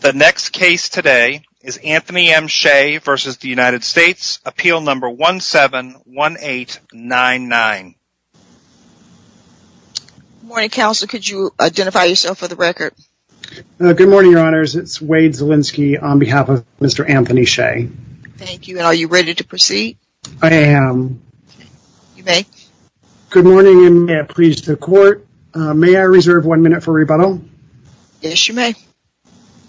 The next case today is Anthony M. Shea v. United States, Appeal No. 171899. Good morning, Counselor. Could you identify yourself for the record? Good morning, Your Honors. It's Wade Zielinski on behalf of Mr. Anthony Shea. Thank you. Are you ready to proceed? I am. You may. Good morning, and may I please the Court? May I reserve one minute for rebuttal? Yes, you may.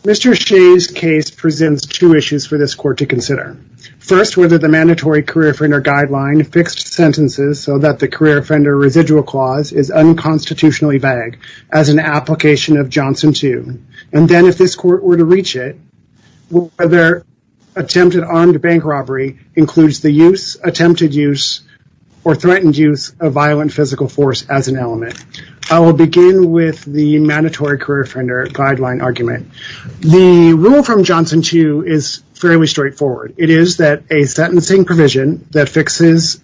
Mr. Shea's case presents two issues for this Court to consider. First, whether the Mandatory Career Offender Guideline fixed sentences so that the Career Offender Residual Clause is unconstitutionally vague as an application of Johnson 2. And then if this Court were to reach it, whether attempted armed bank robbery includes the use, attempted use, or threatened use of violent physical force as an element. I will begin with the Mandatory Career Offender Guideline argument. The rule from Johnson 2 is fairly straightforward. It is that a sentencing provision that fixes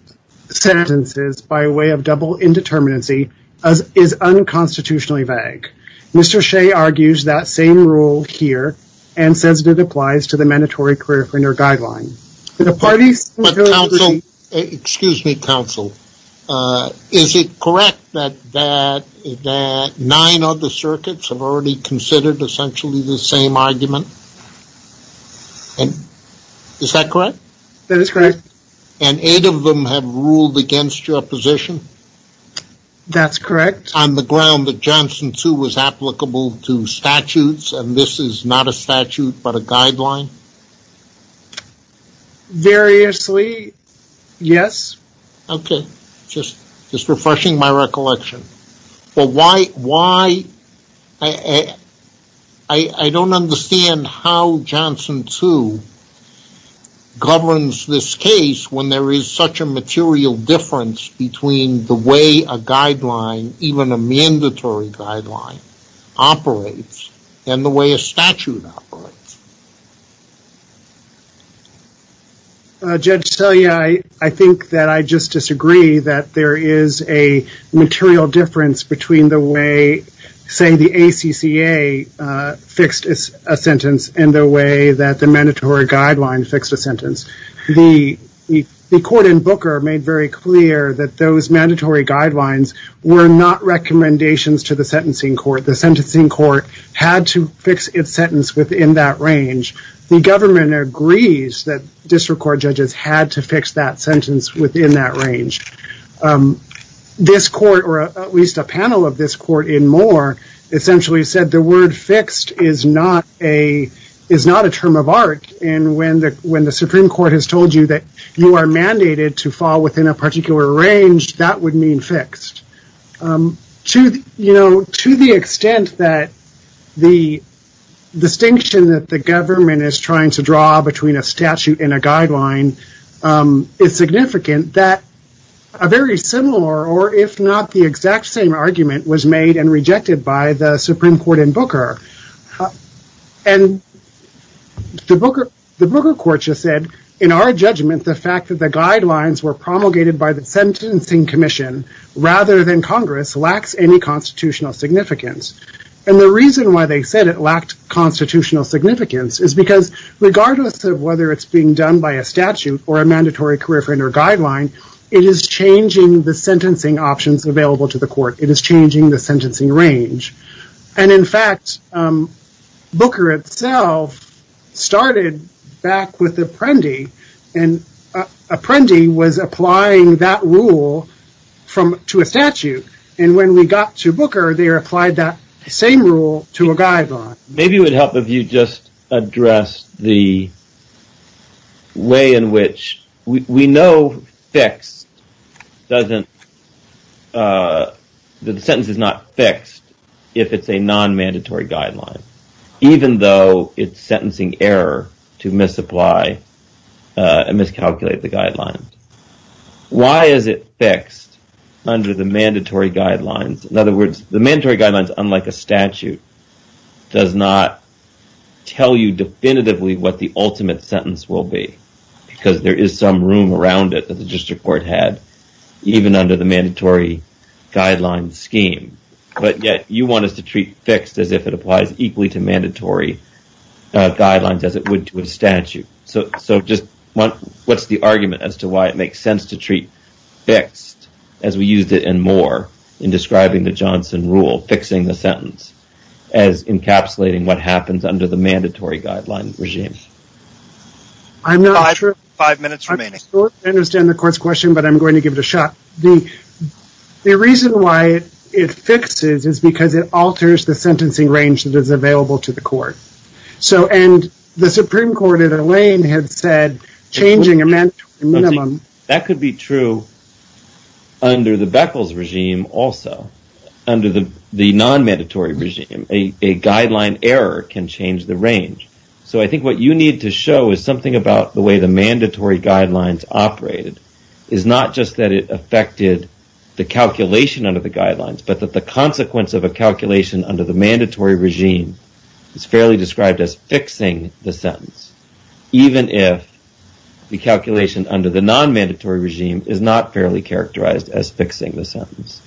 sentences by way of double indeterminacy is unconstitutionally vague. Mr. Shea argues that same rule here and says it applies to the Mandatory Career Offender Guideline. Excuse me, counsel. Is it correct that nine other circuits have already considered essentially the same argument? Is that correct? That is correct. And eight of them have ruled against your position? That's correct. On the ground that Johnson 2 was applicable to statutes, and this is not a statute but a guideline? Variously, yes. Okay, just refreshing my recollection. But why, I don't understand how Johnson 2 governs this case when there is such a material difference between the way a guideline, even a mandatory guideline, operates and the way a statute operates. Judge Telia, I think that I just disagree that there is a material difference between the way, say, the ACCA fixed a sentence and the way that the mandatory guideline fixed a sentence. The court in Booker made very clear that those mandatory guidelines were not recommendations to the sentencing court. The sentencing court had to fix its sentence within that range. The government agrees that district court judges had to fix that sentence within that range. This court, or at least a panel of this court in Moore, essentially said the word fixed is not a term of art. And when the Supreme Court has told you that you are mandated to fall within a particular range, that would mean fixed. To the extent that the distinction that the government is trying to draw between a statute and a guideline is significant, that a very similar, or if not the exact same, argument was made and rejected by the Supreme Court in Booker. The Booker court just said, in our judgment, the fact that the guidelines were promulgated by the sentencing commission rather than Congress lacks any constitutional significance. And the reason why they said it lacked constitutional significance is because, regardless of whether it's being done by a statute or a mandatory curriculum or guideline, it is changing the sentencing options available to the court. It is changing the sentencing range. And in fact, Booker itself started back with Apprendi. And Apprendi was applying that rule to a statute. And when we got to Booker, they applied that same rule to a guideline. Maybe it would help if you just addressed the way in which we know the sentence is not fixed if it's a non-mandatory guideline, even though it's sentencing error to misapply and miscalculate the guidelines. Why is it fixed under the mandatory guidelines? In other words, the mandatory guidelines, unlike a statute, does not tell you definitively what the ultimate sentence will be, because there is some room around it that the district court had, even under the mandatory guidelines scheme. But yet you want us to treat fixed as if it applies equally to mandatory guidelines as it would to a statute. So just what's the argument as to why it makes sense to treat fixed as we used it in Moore in describing the Johnson rule, fixing the sentence as encapsulating what happens under the mandatory guideline regime? I'm not sure. Five minutes remaining. I understand the court's question, but I'm going to give it a shot. The reason why it fixes is because it alters the sentencing range that is available to the court. And the Supreme Court at a lane had said changing a mandatory minimum. That could be true under the Beckles regime also, under the non-mandatory regime. A guideline error can change the range. So I think what you need to show is something about the way the mandatory guidelines operated, is not just that it affected the calculation under the guidelines, but that the consequence of a calculation under the mandatory regime is fairly described as fixing the sentence, even if the calculation under the non-mandatory regime is not fairly characterized as fixing the sentence.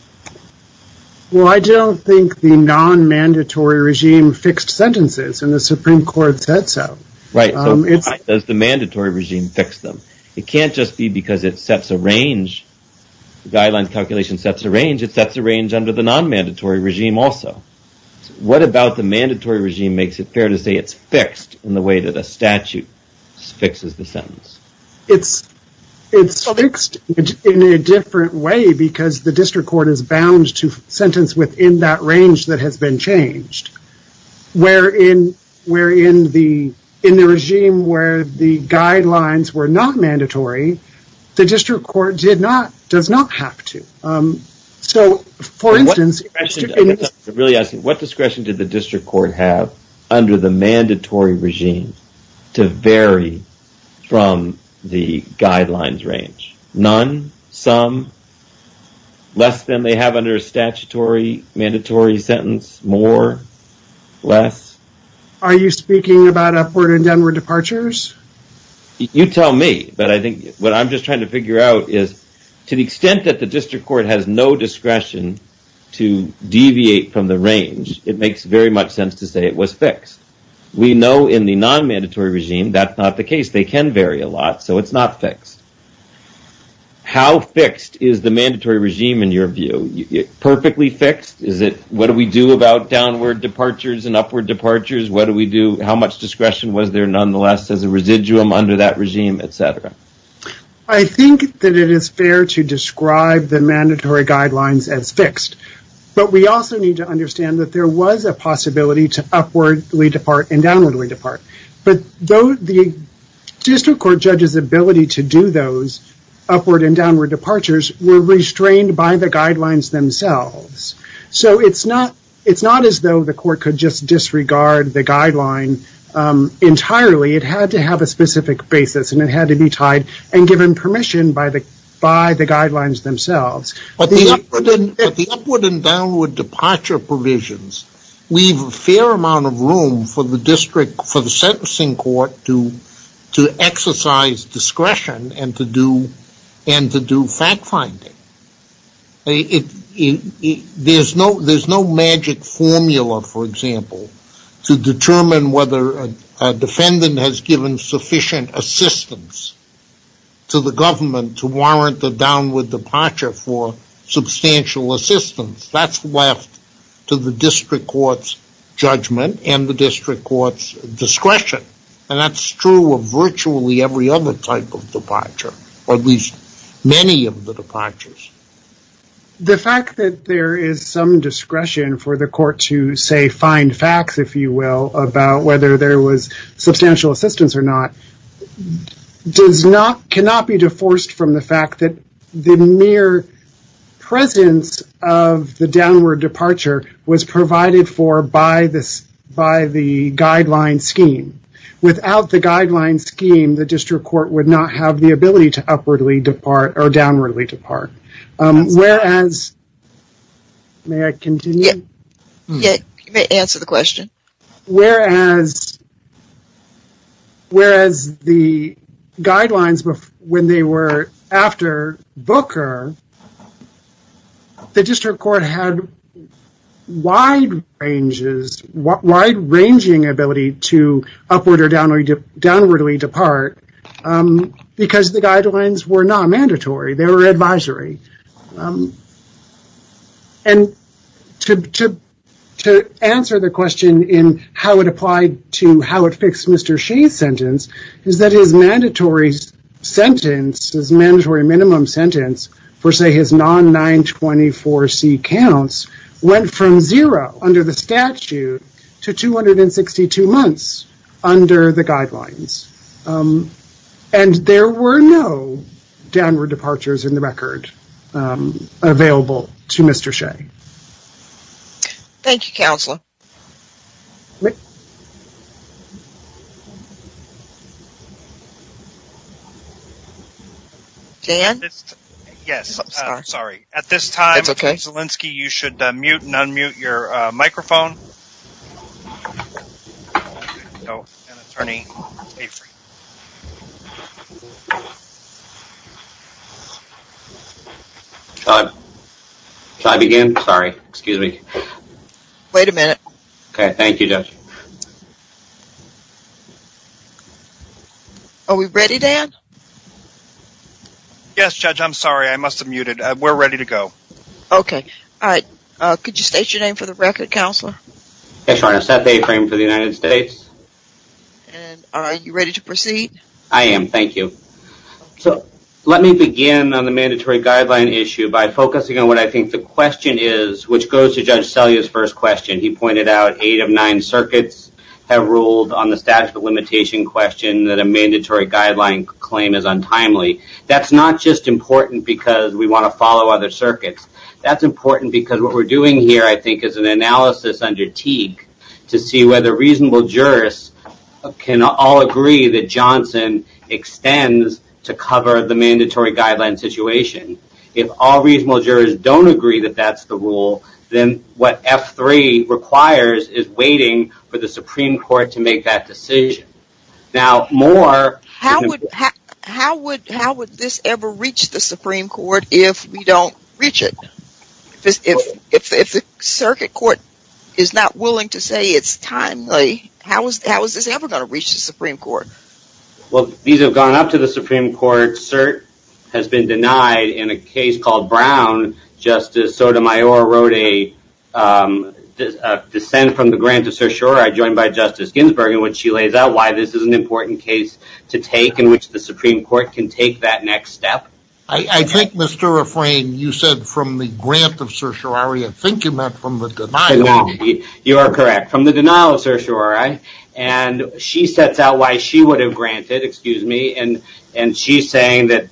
Well, I don't think the non-mandatory regime fixed sentences and the Supreme Court said so. Right. Does the mandatory regime fix them? It can't just be because it sets a range. The guideline calculation sets a range. It sets a range under the non-mandatory regime also. What about the mandatory regime makes it fair to say it's fixed in the way that a statute fixes the sentence? It's fixed in a different way because the district court is bound to sentence within that range that has been changed. Where in the regime where the guidelines were not mandatory, the district court does not have to. So, for instance... I'm really asking, what discretion did the district court have under the mandatory regime to vary from the guidelines range? None? Some? Less than they have under a statutory mandatory sentence? More? Less? Are you speaking about upward and downward departures? You tell me, but I think what I'm just trying to figure out is to the extent that the district court has no discretion to deviate from the range, it makes very much sense to say it was fixed. We know in the non-mandatory regime that's not the case. They can vary a lot, so it's not fixed. How fixed is the mandatory regime in your view? Perfectly fixed? What do we do about downward departures and upward departures? How much discretion was there nonetheless as a residuum under that regime, etc.? I think that it is fair to describe the mandatory guidelines as fixed. But we also need to understand that there was a possibility to upwardly depart and downwardly depart. But the district court judge's ability to do those upward and downward departures were restrained by the guidelines themselves. So it's not as though the court could just disregard the guideline entirely. It had to have a specific basis, and it had to be tied and given permission by the guidelines themselves. At the upward and downward departure provisions, we have a fair amount of room for the district, for the sentencing court to exercise discretion and to do fact finding. There's no magic formula, for example, to determine whether a defendant has given sufficient assistance to the government to warrant a downward departure for substantial assistance. That's left to the district court's judgment and the district court's discretion. And that's true of virtually every other type of departure, or at least many of the departures. The fact that there is some discretion for the court to, say, find facts, if you will, about whether there was substantial assistance or not, cannot be deforced from the fact that the mere presence of the downward departure was provided for by the guideline scheme. Without the guideline scheme, the district court would not have the ability to upwardly depart or downwardly depart. Whereas, may I continue? Yeah, you may answer the question. Whereas the guidelines, when they were after Booker, the district court had wide-ranging ability to upward or downwardly depart, because the guidelines were not mandatory, they were advisory. And to answer the question in how it applied to how it fixed Mr. Shea's sentence, is that his mandatory sentence, his mandatory minimum sentence for, say, his non-924C counts, went from zero under the statute to 262 months under the guidelines. And there were no downward departures in the record available to Mr. Shea. Thank you, Counselor. Dan? Yes, sorry. At this time, Ms. Zielinski, you should mute and unmute your microphone. Thank you. Should I begin? Sorry, excuse me. Wait a minute. Okay, thank you, Judge. Are we ready, Dan? Yes, Judge, I'm sorry. I must have muted. We're ready to go. Okay. All right. Could you state your name for the record, Counselor? Yes, Your Honor. Seth A. Frame for the United States. And are you ready to proceed? I am. Thank you. So let me begin on the mandatory guideline issue by focusing on what I think the question is, which goes to Judge Selye's first question. He pointed out eight of nine circuits have ruled on the statute of limitation question that a mandatory guideline claim is untimely. That's not just important because we want to follow other circuits. That's important because what we're doing here, I think, is an analysis under Teague to see whether reasonable jurists can all agree that Johnson extends to cover the mandatory guideline situation. If all reasonable jurors don't agree that that's the rule, then what F3 requires is waiting for the Supreme Court to make that decision. How would this ever reach the Supreme Court if we don't reach it? If the circuit court is not willing to say it's timely, how is this ever going to reach the Supreme Court? Well, these have gone up to the Supreme Court. Cert has been denied in a case called Brown. Justice Sotomayor wrote a dissent from the grant of certiorari joined by Justice Ginsburg. She lays out why this is an important case to take and which the Supreme Court can take that next step. I think, Mr. Refrain, you said from the grant of certiorari. I think you meant from the denial. You are correct, from the denial of certiorari. She sets out why she would have granted, excuse me, and she's saying that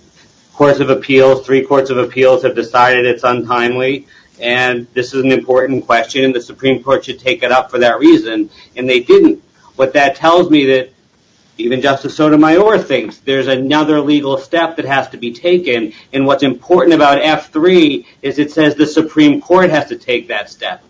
three courts of appeals have decided it's untimely. This is an important question, and the Supreme Court should take it up for that reason, and they didn't. But that tells me that even Justice Sotomayor thinks there's another legal step that has to be taken, and what's important about F3 is it says the Supreme Court has to take that step.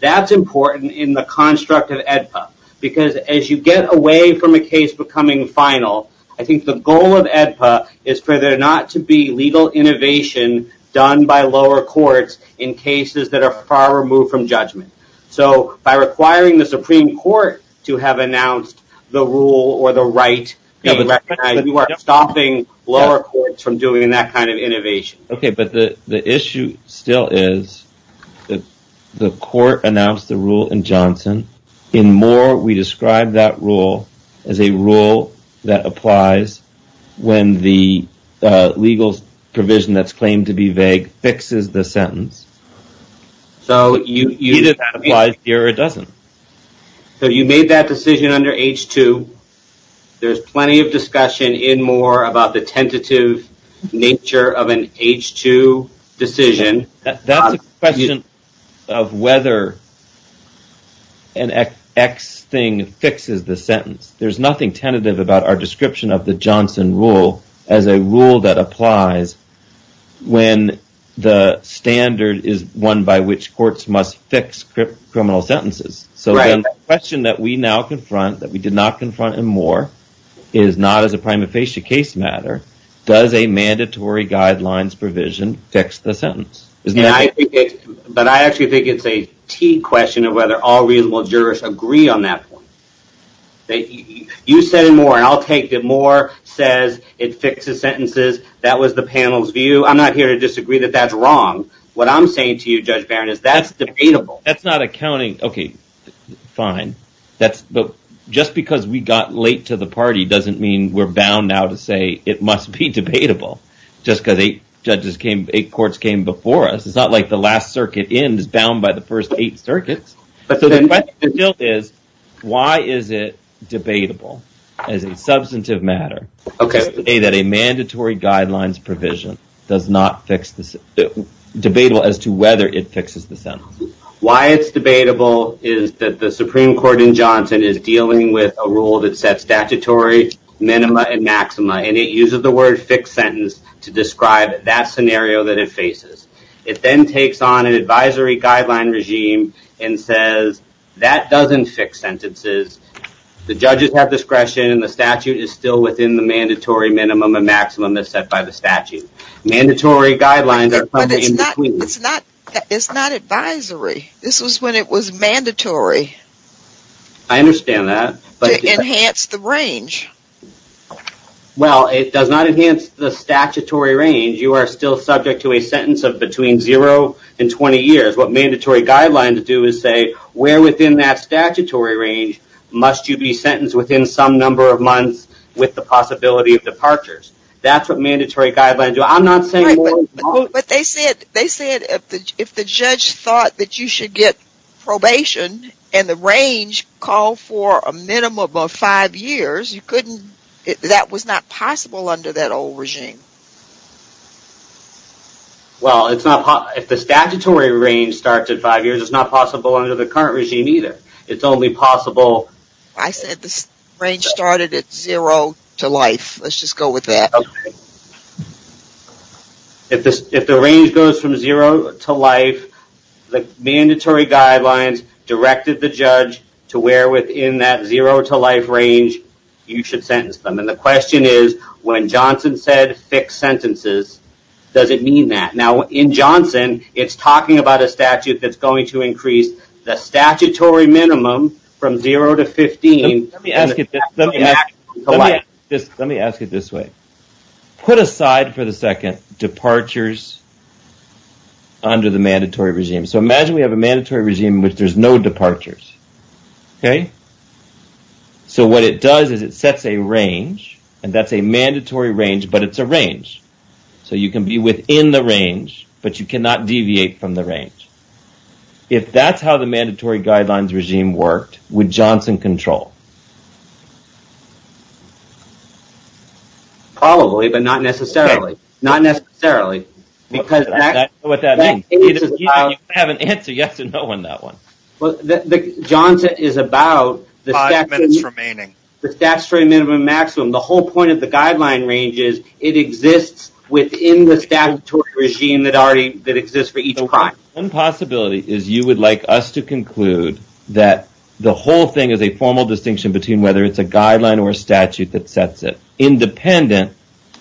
That's important in the construct of AEDPA, because as you get away from a case becoming final, I think the goal of AEDPA is for there not to be legal innovation done by lower courts in cases that are far removed from judgment. So by requiring the Supreme Court to have announced the rule or the right, you are stopping lower courts from doing that kind of innovation. Okay, but the issue still is the court announced the rule in Johnson. In Moore, we describe that rule as a rule that applies when the legal provision that's claimed to be vague fixes the sentence. So either that applies here or it doesn't. So you made that decision under H2. There's plenty of discussion in Moore about the tentative nature of an H2 decision. That's a question of whether an X thing fixes the sentence. There's nothing tentative about our description of the Johnson rule as a rule that applies when the standard is one by which courts must fix criminal sentences. So the question that we now confront, that we did not confront in Moore, is not as a prima facie case matter, does a mandatory guidelines provision fix the sentence? But I actually think it's a key question of whether all reasonable jurists agree on that point. You said in Moore, and I'll take it, Moore says it fixes sentences. That was the panel's view. I'm not here to disagree that that's wrong. What I'm saying to you, Judge Barron, is that's debatable. That's not accounting. Okay, fine. But just because we got late to the party doesn't mean we're bound now to say it must be debatable, just because eight courts came before us. It's not like the last circuit ends bound by the first eight circuits. So the question still is, why is it debatable as a substantive matter? Just to say that a mandatory guidelines provision does not fix the sentence. It's debatable as to whether it fixes the sentence. Why it's debatable is that the Supreme Court in Johnson is dealing with a rule that sets statutory minima and maxima, and it uses the word fixed sentence to describe that scenario that it faces. It then takes on an advisory guideline regime and says that doesn't fix sentences. The judges have discretion and the statute is still within the mandatory minimum and maximum that's set by the statute. Mandatory guidelines are coming in between. But it's not advisory. This was when it was mandatory. I understand that. To enhance the range. Well, it does not enhance the statutory range. You are still subject to a sentence of between zero and 20 years. What mandatory guidelines do is say where within that statutory range must you be sentenced within some number of months with the possibility of departures. That's what mandatory guidelines do. I'm not saying... But they said if the judge thought that you should get probation and the range called for a minimum of five years, that was not possible under that old regime. Well, it's not... If the statutory range starts at five years, it's not possible under the current regime either. It's only possible... I said the range started at zero to life. Let's just go with that. Okay. If the range goes from zero to life, the mandatory guidelines directed the judge to where within that zero to life range you should sentence them. And the question is, when Johnson said fixed sentences, does it mean that? Now, in Johnson, it's talking about a statute that's going to increase the statutory minimum from zero to 15. Let me ask it this way. Put aside for the second departures under the mandatory regime. So imagine we have a mandatory regime in which there's no departures. Okay. So what it does is it sets a range. And that's a mandatory range, but it's a range. So you can be within the range, but you cannot deviate from the range. If that's how the mandatory guidelines regime worked, would Johnson control? Probably, but not necessarily. Not necessarily. Because that... I don't know what that means. You have an answer, you have to know on that one. Johnson is about the statutory minimum and maximum. The whole point of the guideline range is it exists within the statutory regime that exists for each crime. One possibility is you would like us to conclude that the whole thing is a formal distinction between whether it's a guideline or a statute that sets it, independent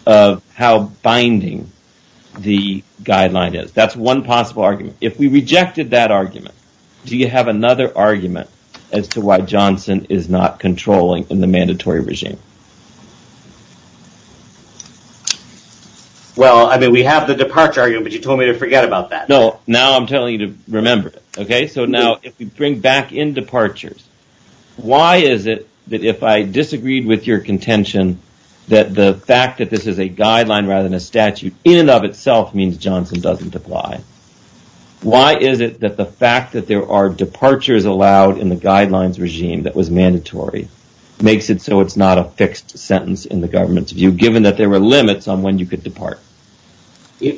of how binding the guideline is. That's one possible argument. If we rejected that argument, do you have another argument as to why Johnson is not controlling in the mandatory regime? Well, I mean, we have the departure argument, but you told me to forget about that. No, now I'm telling you to remember it. Okay. So now if we bring back in departures, why is it that if I disagreed with your contention that the fact that this is a guideline rather than a statute in and of itself means Johnson doesn't apply? Why is it that the fact that there are departures allowed in the guidelines regime that was mandatory makes it so it's not a fixed sentence in the government's view, given that there were limits on when you could depart?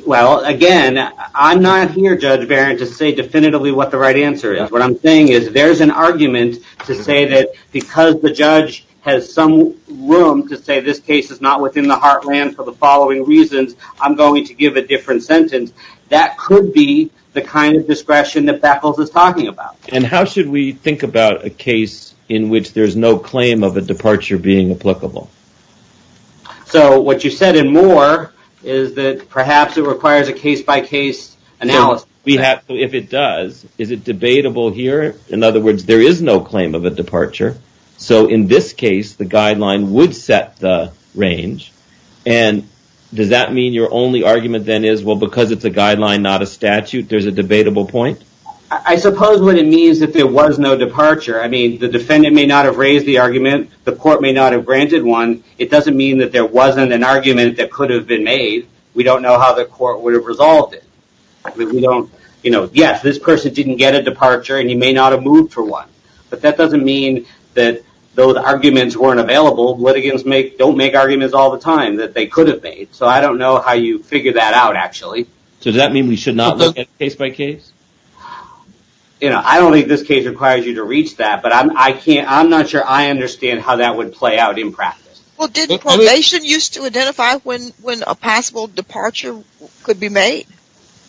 Well, again, I'm not here, Judge Barron, to say definitively what the right answer is. What I'm saying is there's an argument to say that because the judge has some room to say this case is not within the heartland for the following reasons, I'm going to give a different sentence. That could be the kind of discretion that Beckles is talking about. And how should we think about a case in which there's no claim of a departure being applicable? So what you said and more is that perhaps it requires a case-by-case analysis. If it does, is it debatable here? In other words, there is no claim of a departure. So in this case, the guideline would set the range. And does that mean your only argument then is, well, because it's a guideline, not a statute, there's a debatable point? I suppose what it means is that there was no departure. I mean, the defendant may not have raised the argument. The court may not have granted one. It doesn't mean that there wasn't an argument that could have been made. We don't know how the court would have resolved it. Yes, this person didn't get a departure, and he may not have moved for one. But that doesn't mean that those arguments weren't available. Litigants don't make arguments all the time that they could have made. So I don't know how you figure that out, actually. So does that mean we should not look at case-by-case? You know, I don't think this case requires you to reach that. But I'm not sure I understand how that would play out in practice. Well, did probation use to identify when a possible departure could be made?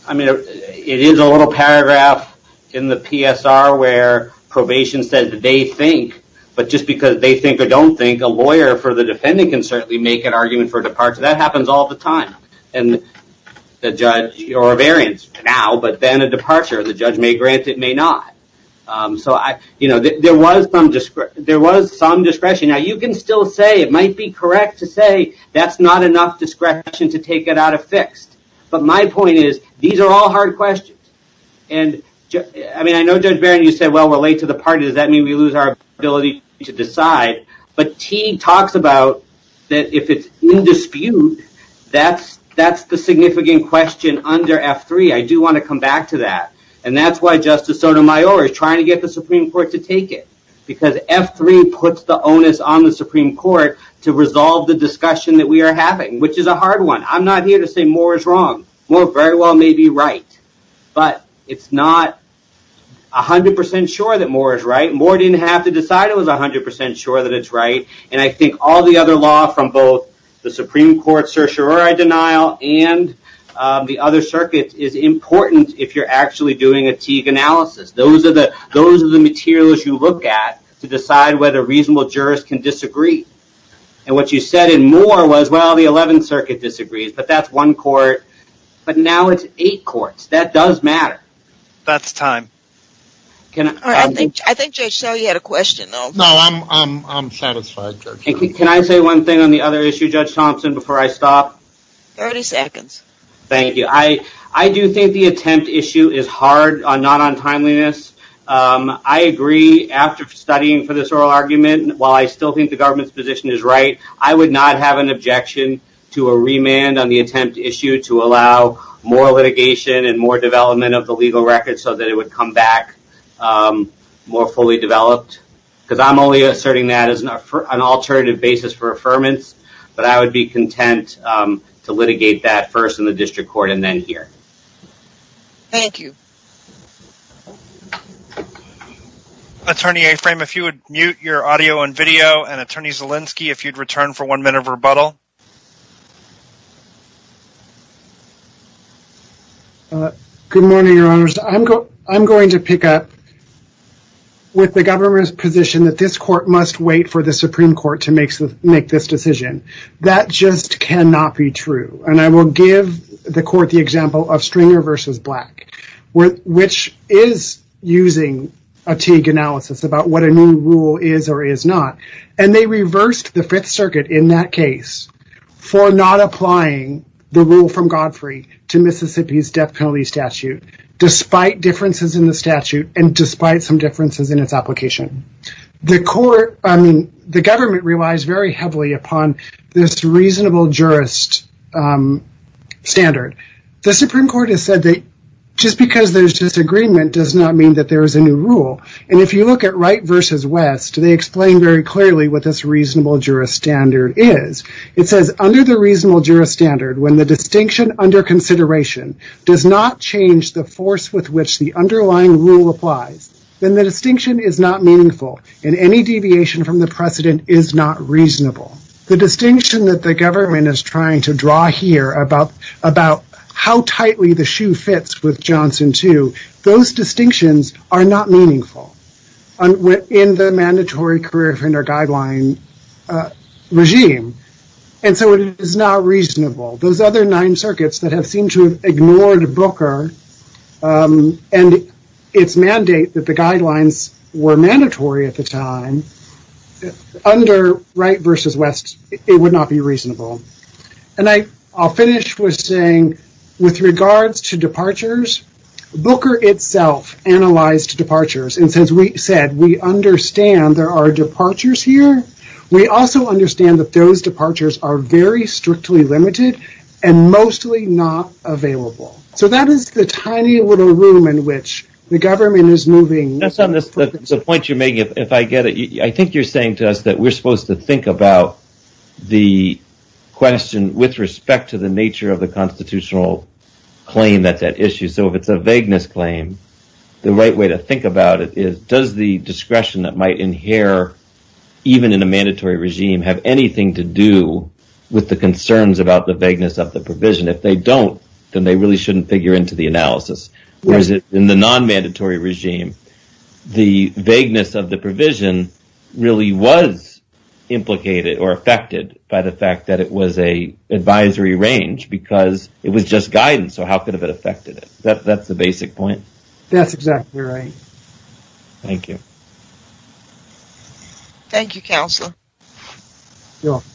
I mean, it is a little paragraph in the PSR where probation says they think. But just because they think or don't think, a lawyer for the defendant can certainly make an argument for departure. That happens all the time. And the judge, or a variant, now, but then a departure. The judge may grant it, may not. So, you know, there was some discretion. Now, you can still say, it might be correct to say, that's not enough discretion to take it out of fixed. But my point is, these are all hard questions. And, I mean, I know Judge Barron, you said, well, we're late to the party. Does that mean we lose our ability to decide? But T talks about that if it's in dispute, that's the significant question under F3. I do want to come back to that. And that's why Justice Sotomayor is trying to get the Supreme Court to take it. Because F3 puts the onus on the Supreme Court to resolve the discussion that we are having, which is a hard one. I'm not here to say Moore is wrong. Moore very well may be right. But it's not 100% sure that Moore is right. Moore didn't have to decide it was 100% sure that it's right. And I think all the other law from both the Supreme Court certiorari denial and the other circuits is important if you're actually doing a Teague analysis. Those are the materials you look at to decide whether reasonable jurists can disagree. And what you said in Moore was, well, the 11th Circuit disagrees. But that's one court. But now it's eight courts. That does matter. That's time. I think Judge Selly had a question, though. No, I'm satisfied, Judge. Can I say one thing on the other issue, Judge Thompson, before I stop? 30 seconds. Thank you. I do think the attempt issue is hard, not on timeliness. I agree. After studying for this oral argument, while I still think the government's position is right, I would not have an objection to a remand on the attempt issue to allow more litigation and more development of the legal record so that it would come back more fully developed. Because I'm only asserting that as an alternative basis for affirmance. But I would be content to litigate that first in the district court and then here. Thank you. Attorney Aframe, if you would mute your audio and video. And Attorney Zielinski, if you'd return for one minute of rebuttal. Good morning, Your Honors. I'm going to pick up with the government's position that this court must wait for the Supreme Court to make this decision. That just cannot be true. And I will give the court the example of Stringer v. Black, which is using a Teague analysis about what a new rule is or is not. And they reversed the Fifth Circuit in that case for not applying the rule from Godfrey to Mississippi's death penalty statute, despite differences in the statute and despite some differences in its application. The government relies very heavily upon this reasonable jurist standard. The Supreme Court has said that just because there's disagreement does not mean that there is a new rule. And if you look at Wright v. West, they explain very clearly what this reasonable jurist standard is. It says, under the reasonable jurist standard, when the distinction under consideration does not change the force with which the underlying rule applies, then the distinction is not meaningful and any deviation from the precedent is not reasonable. The distinction that the government is trying to draw here about how tightly the shoe fits with Johnson too, those distinctions are not meaningful in the mandatory career offender guideline regime. And so it is not reasonable. Those other nine circuits that have seemed to have ignored Booker and its mandate that the guidelines were mandatory at the time, under Wright v. West, it would not be reasonable. And I'll finish with saying, with regards to departures, Booker itself analyzed departures and since we said we understand there are departures here, we also understand that those departures are very strictly limited and mostly not available. So that is the tiny little room in which the government is moving. The point you're making, if I get it, I think you're saying to us that we're supposed to think about the question with respect to the nature of the constitutional claim that's at issue, so if it's a vagueness claim, the right way to think about it is, does the discretion that might inherit even in a mandatory regime have anything to do with the concerns about the vagueness of the provision? If they don't, then they really shouldn't figure into the analysis. Whereas in the non-mandatory regime, the vagueness of the provision really was implicated or affected by the fact that it was an advisory range because it was just guidance, so how could it have affected it? That's the basic point. That's exactly right. Thank you. Thank you, Counselor. You're welcome.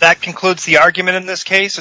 That concludes the argument in this case.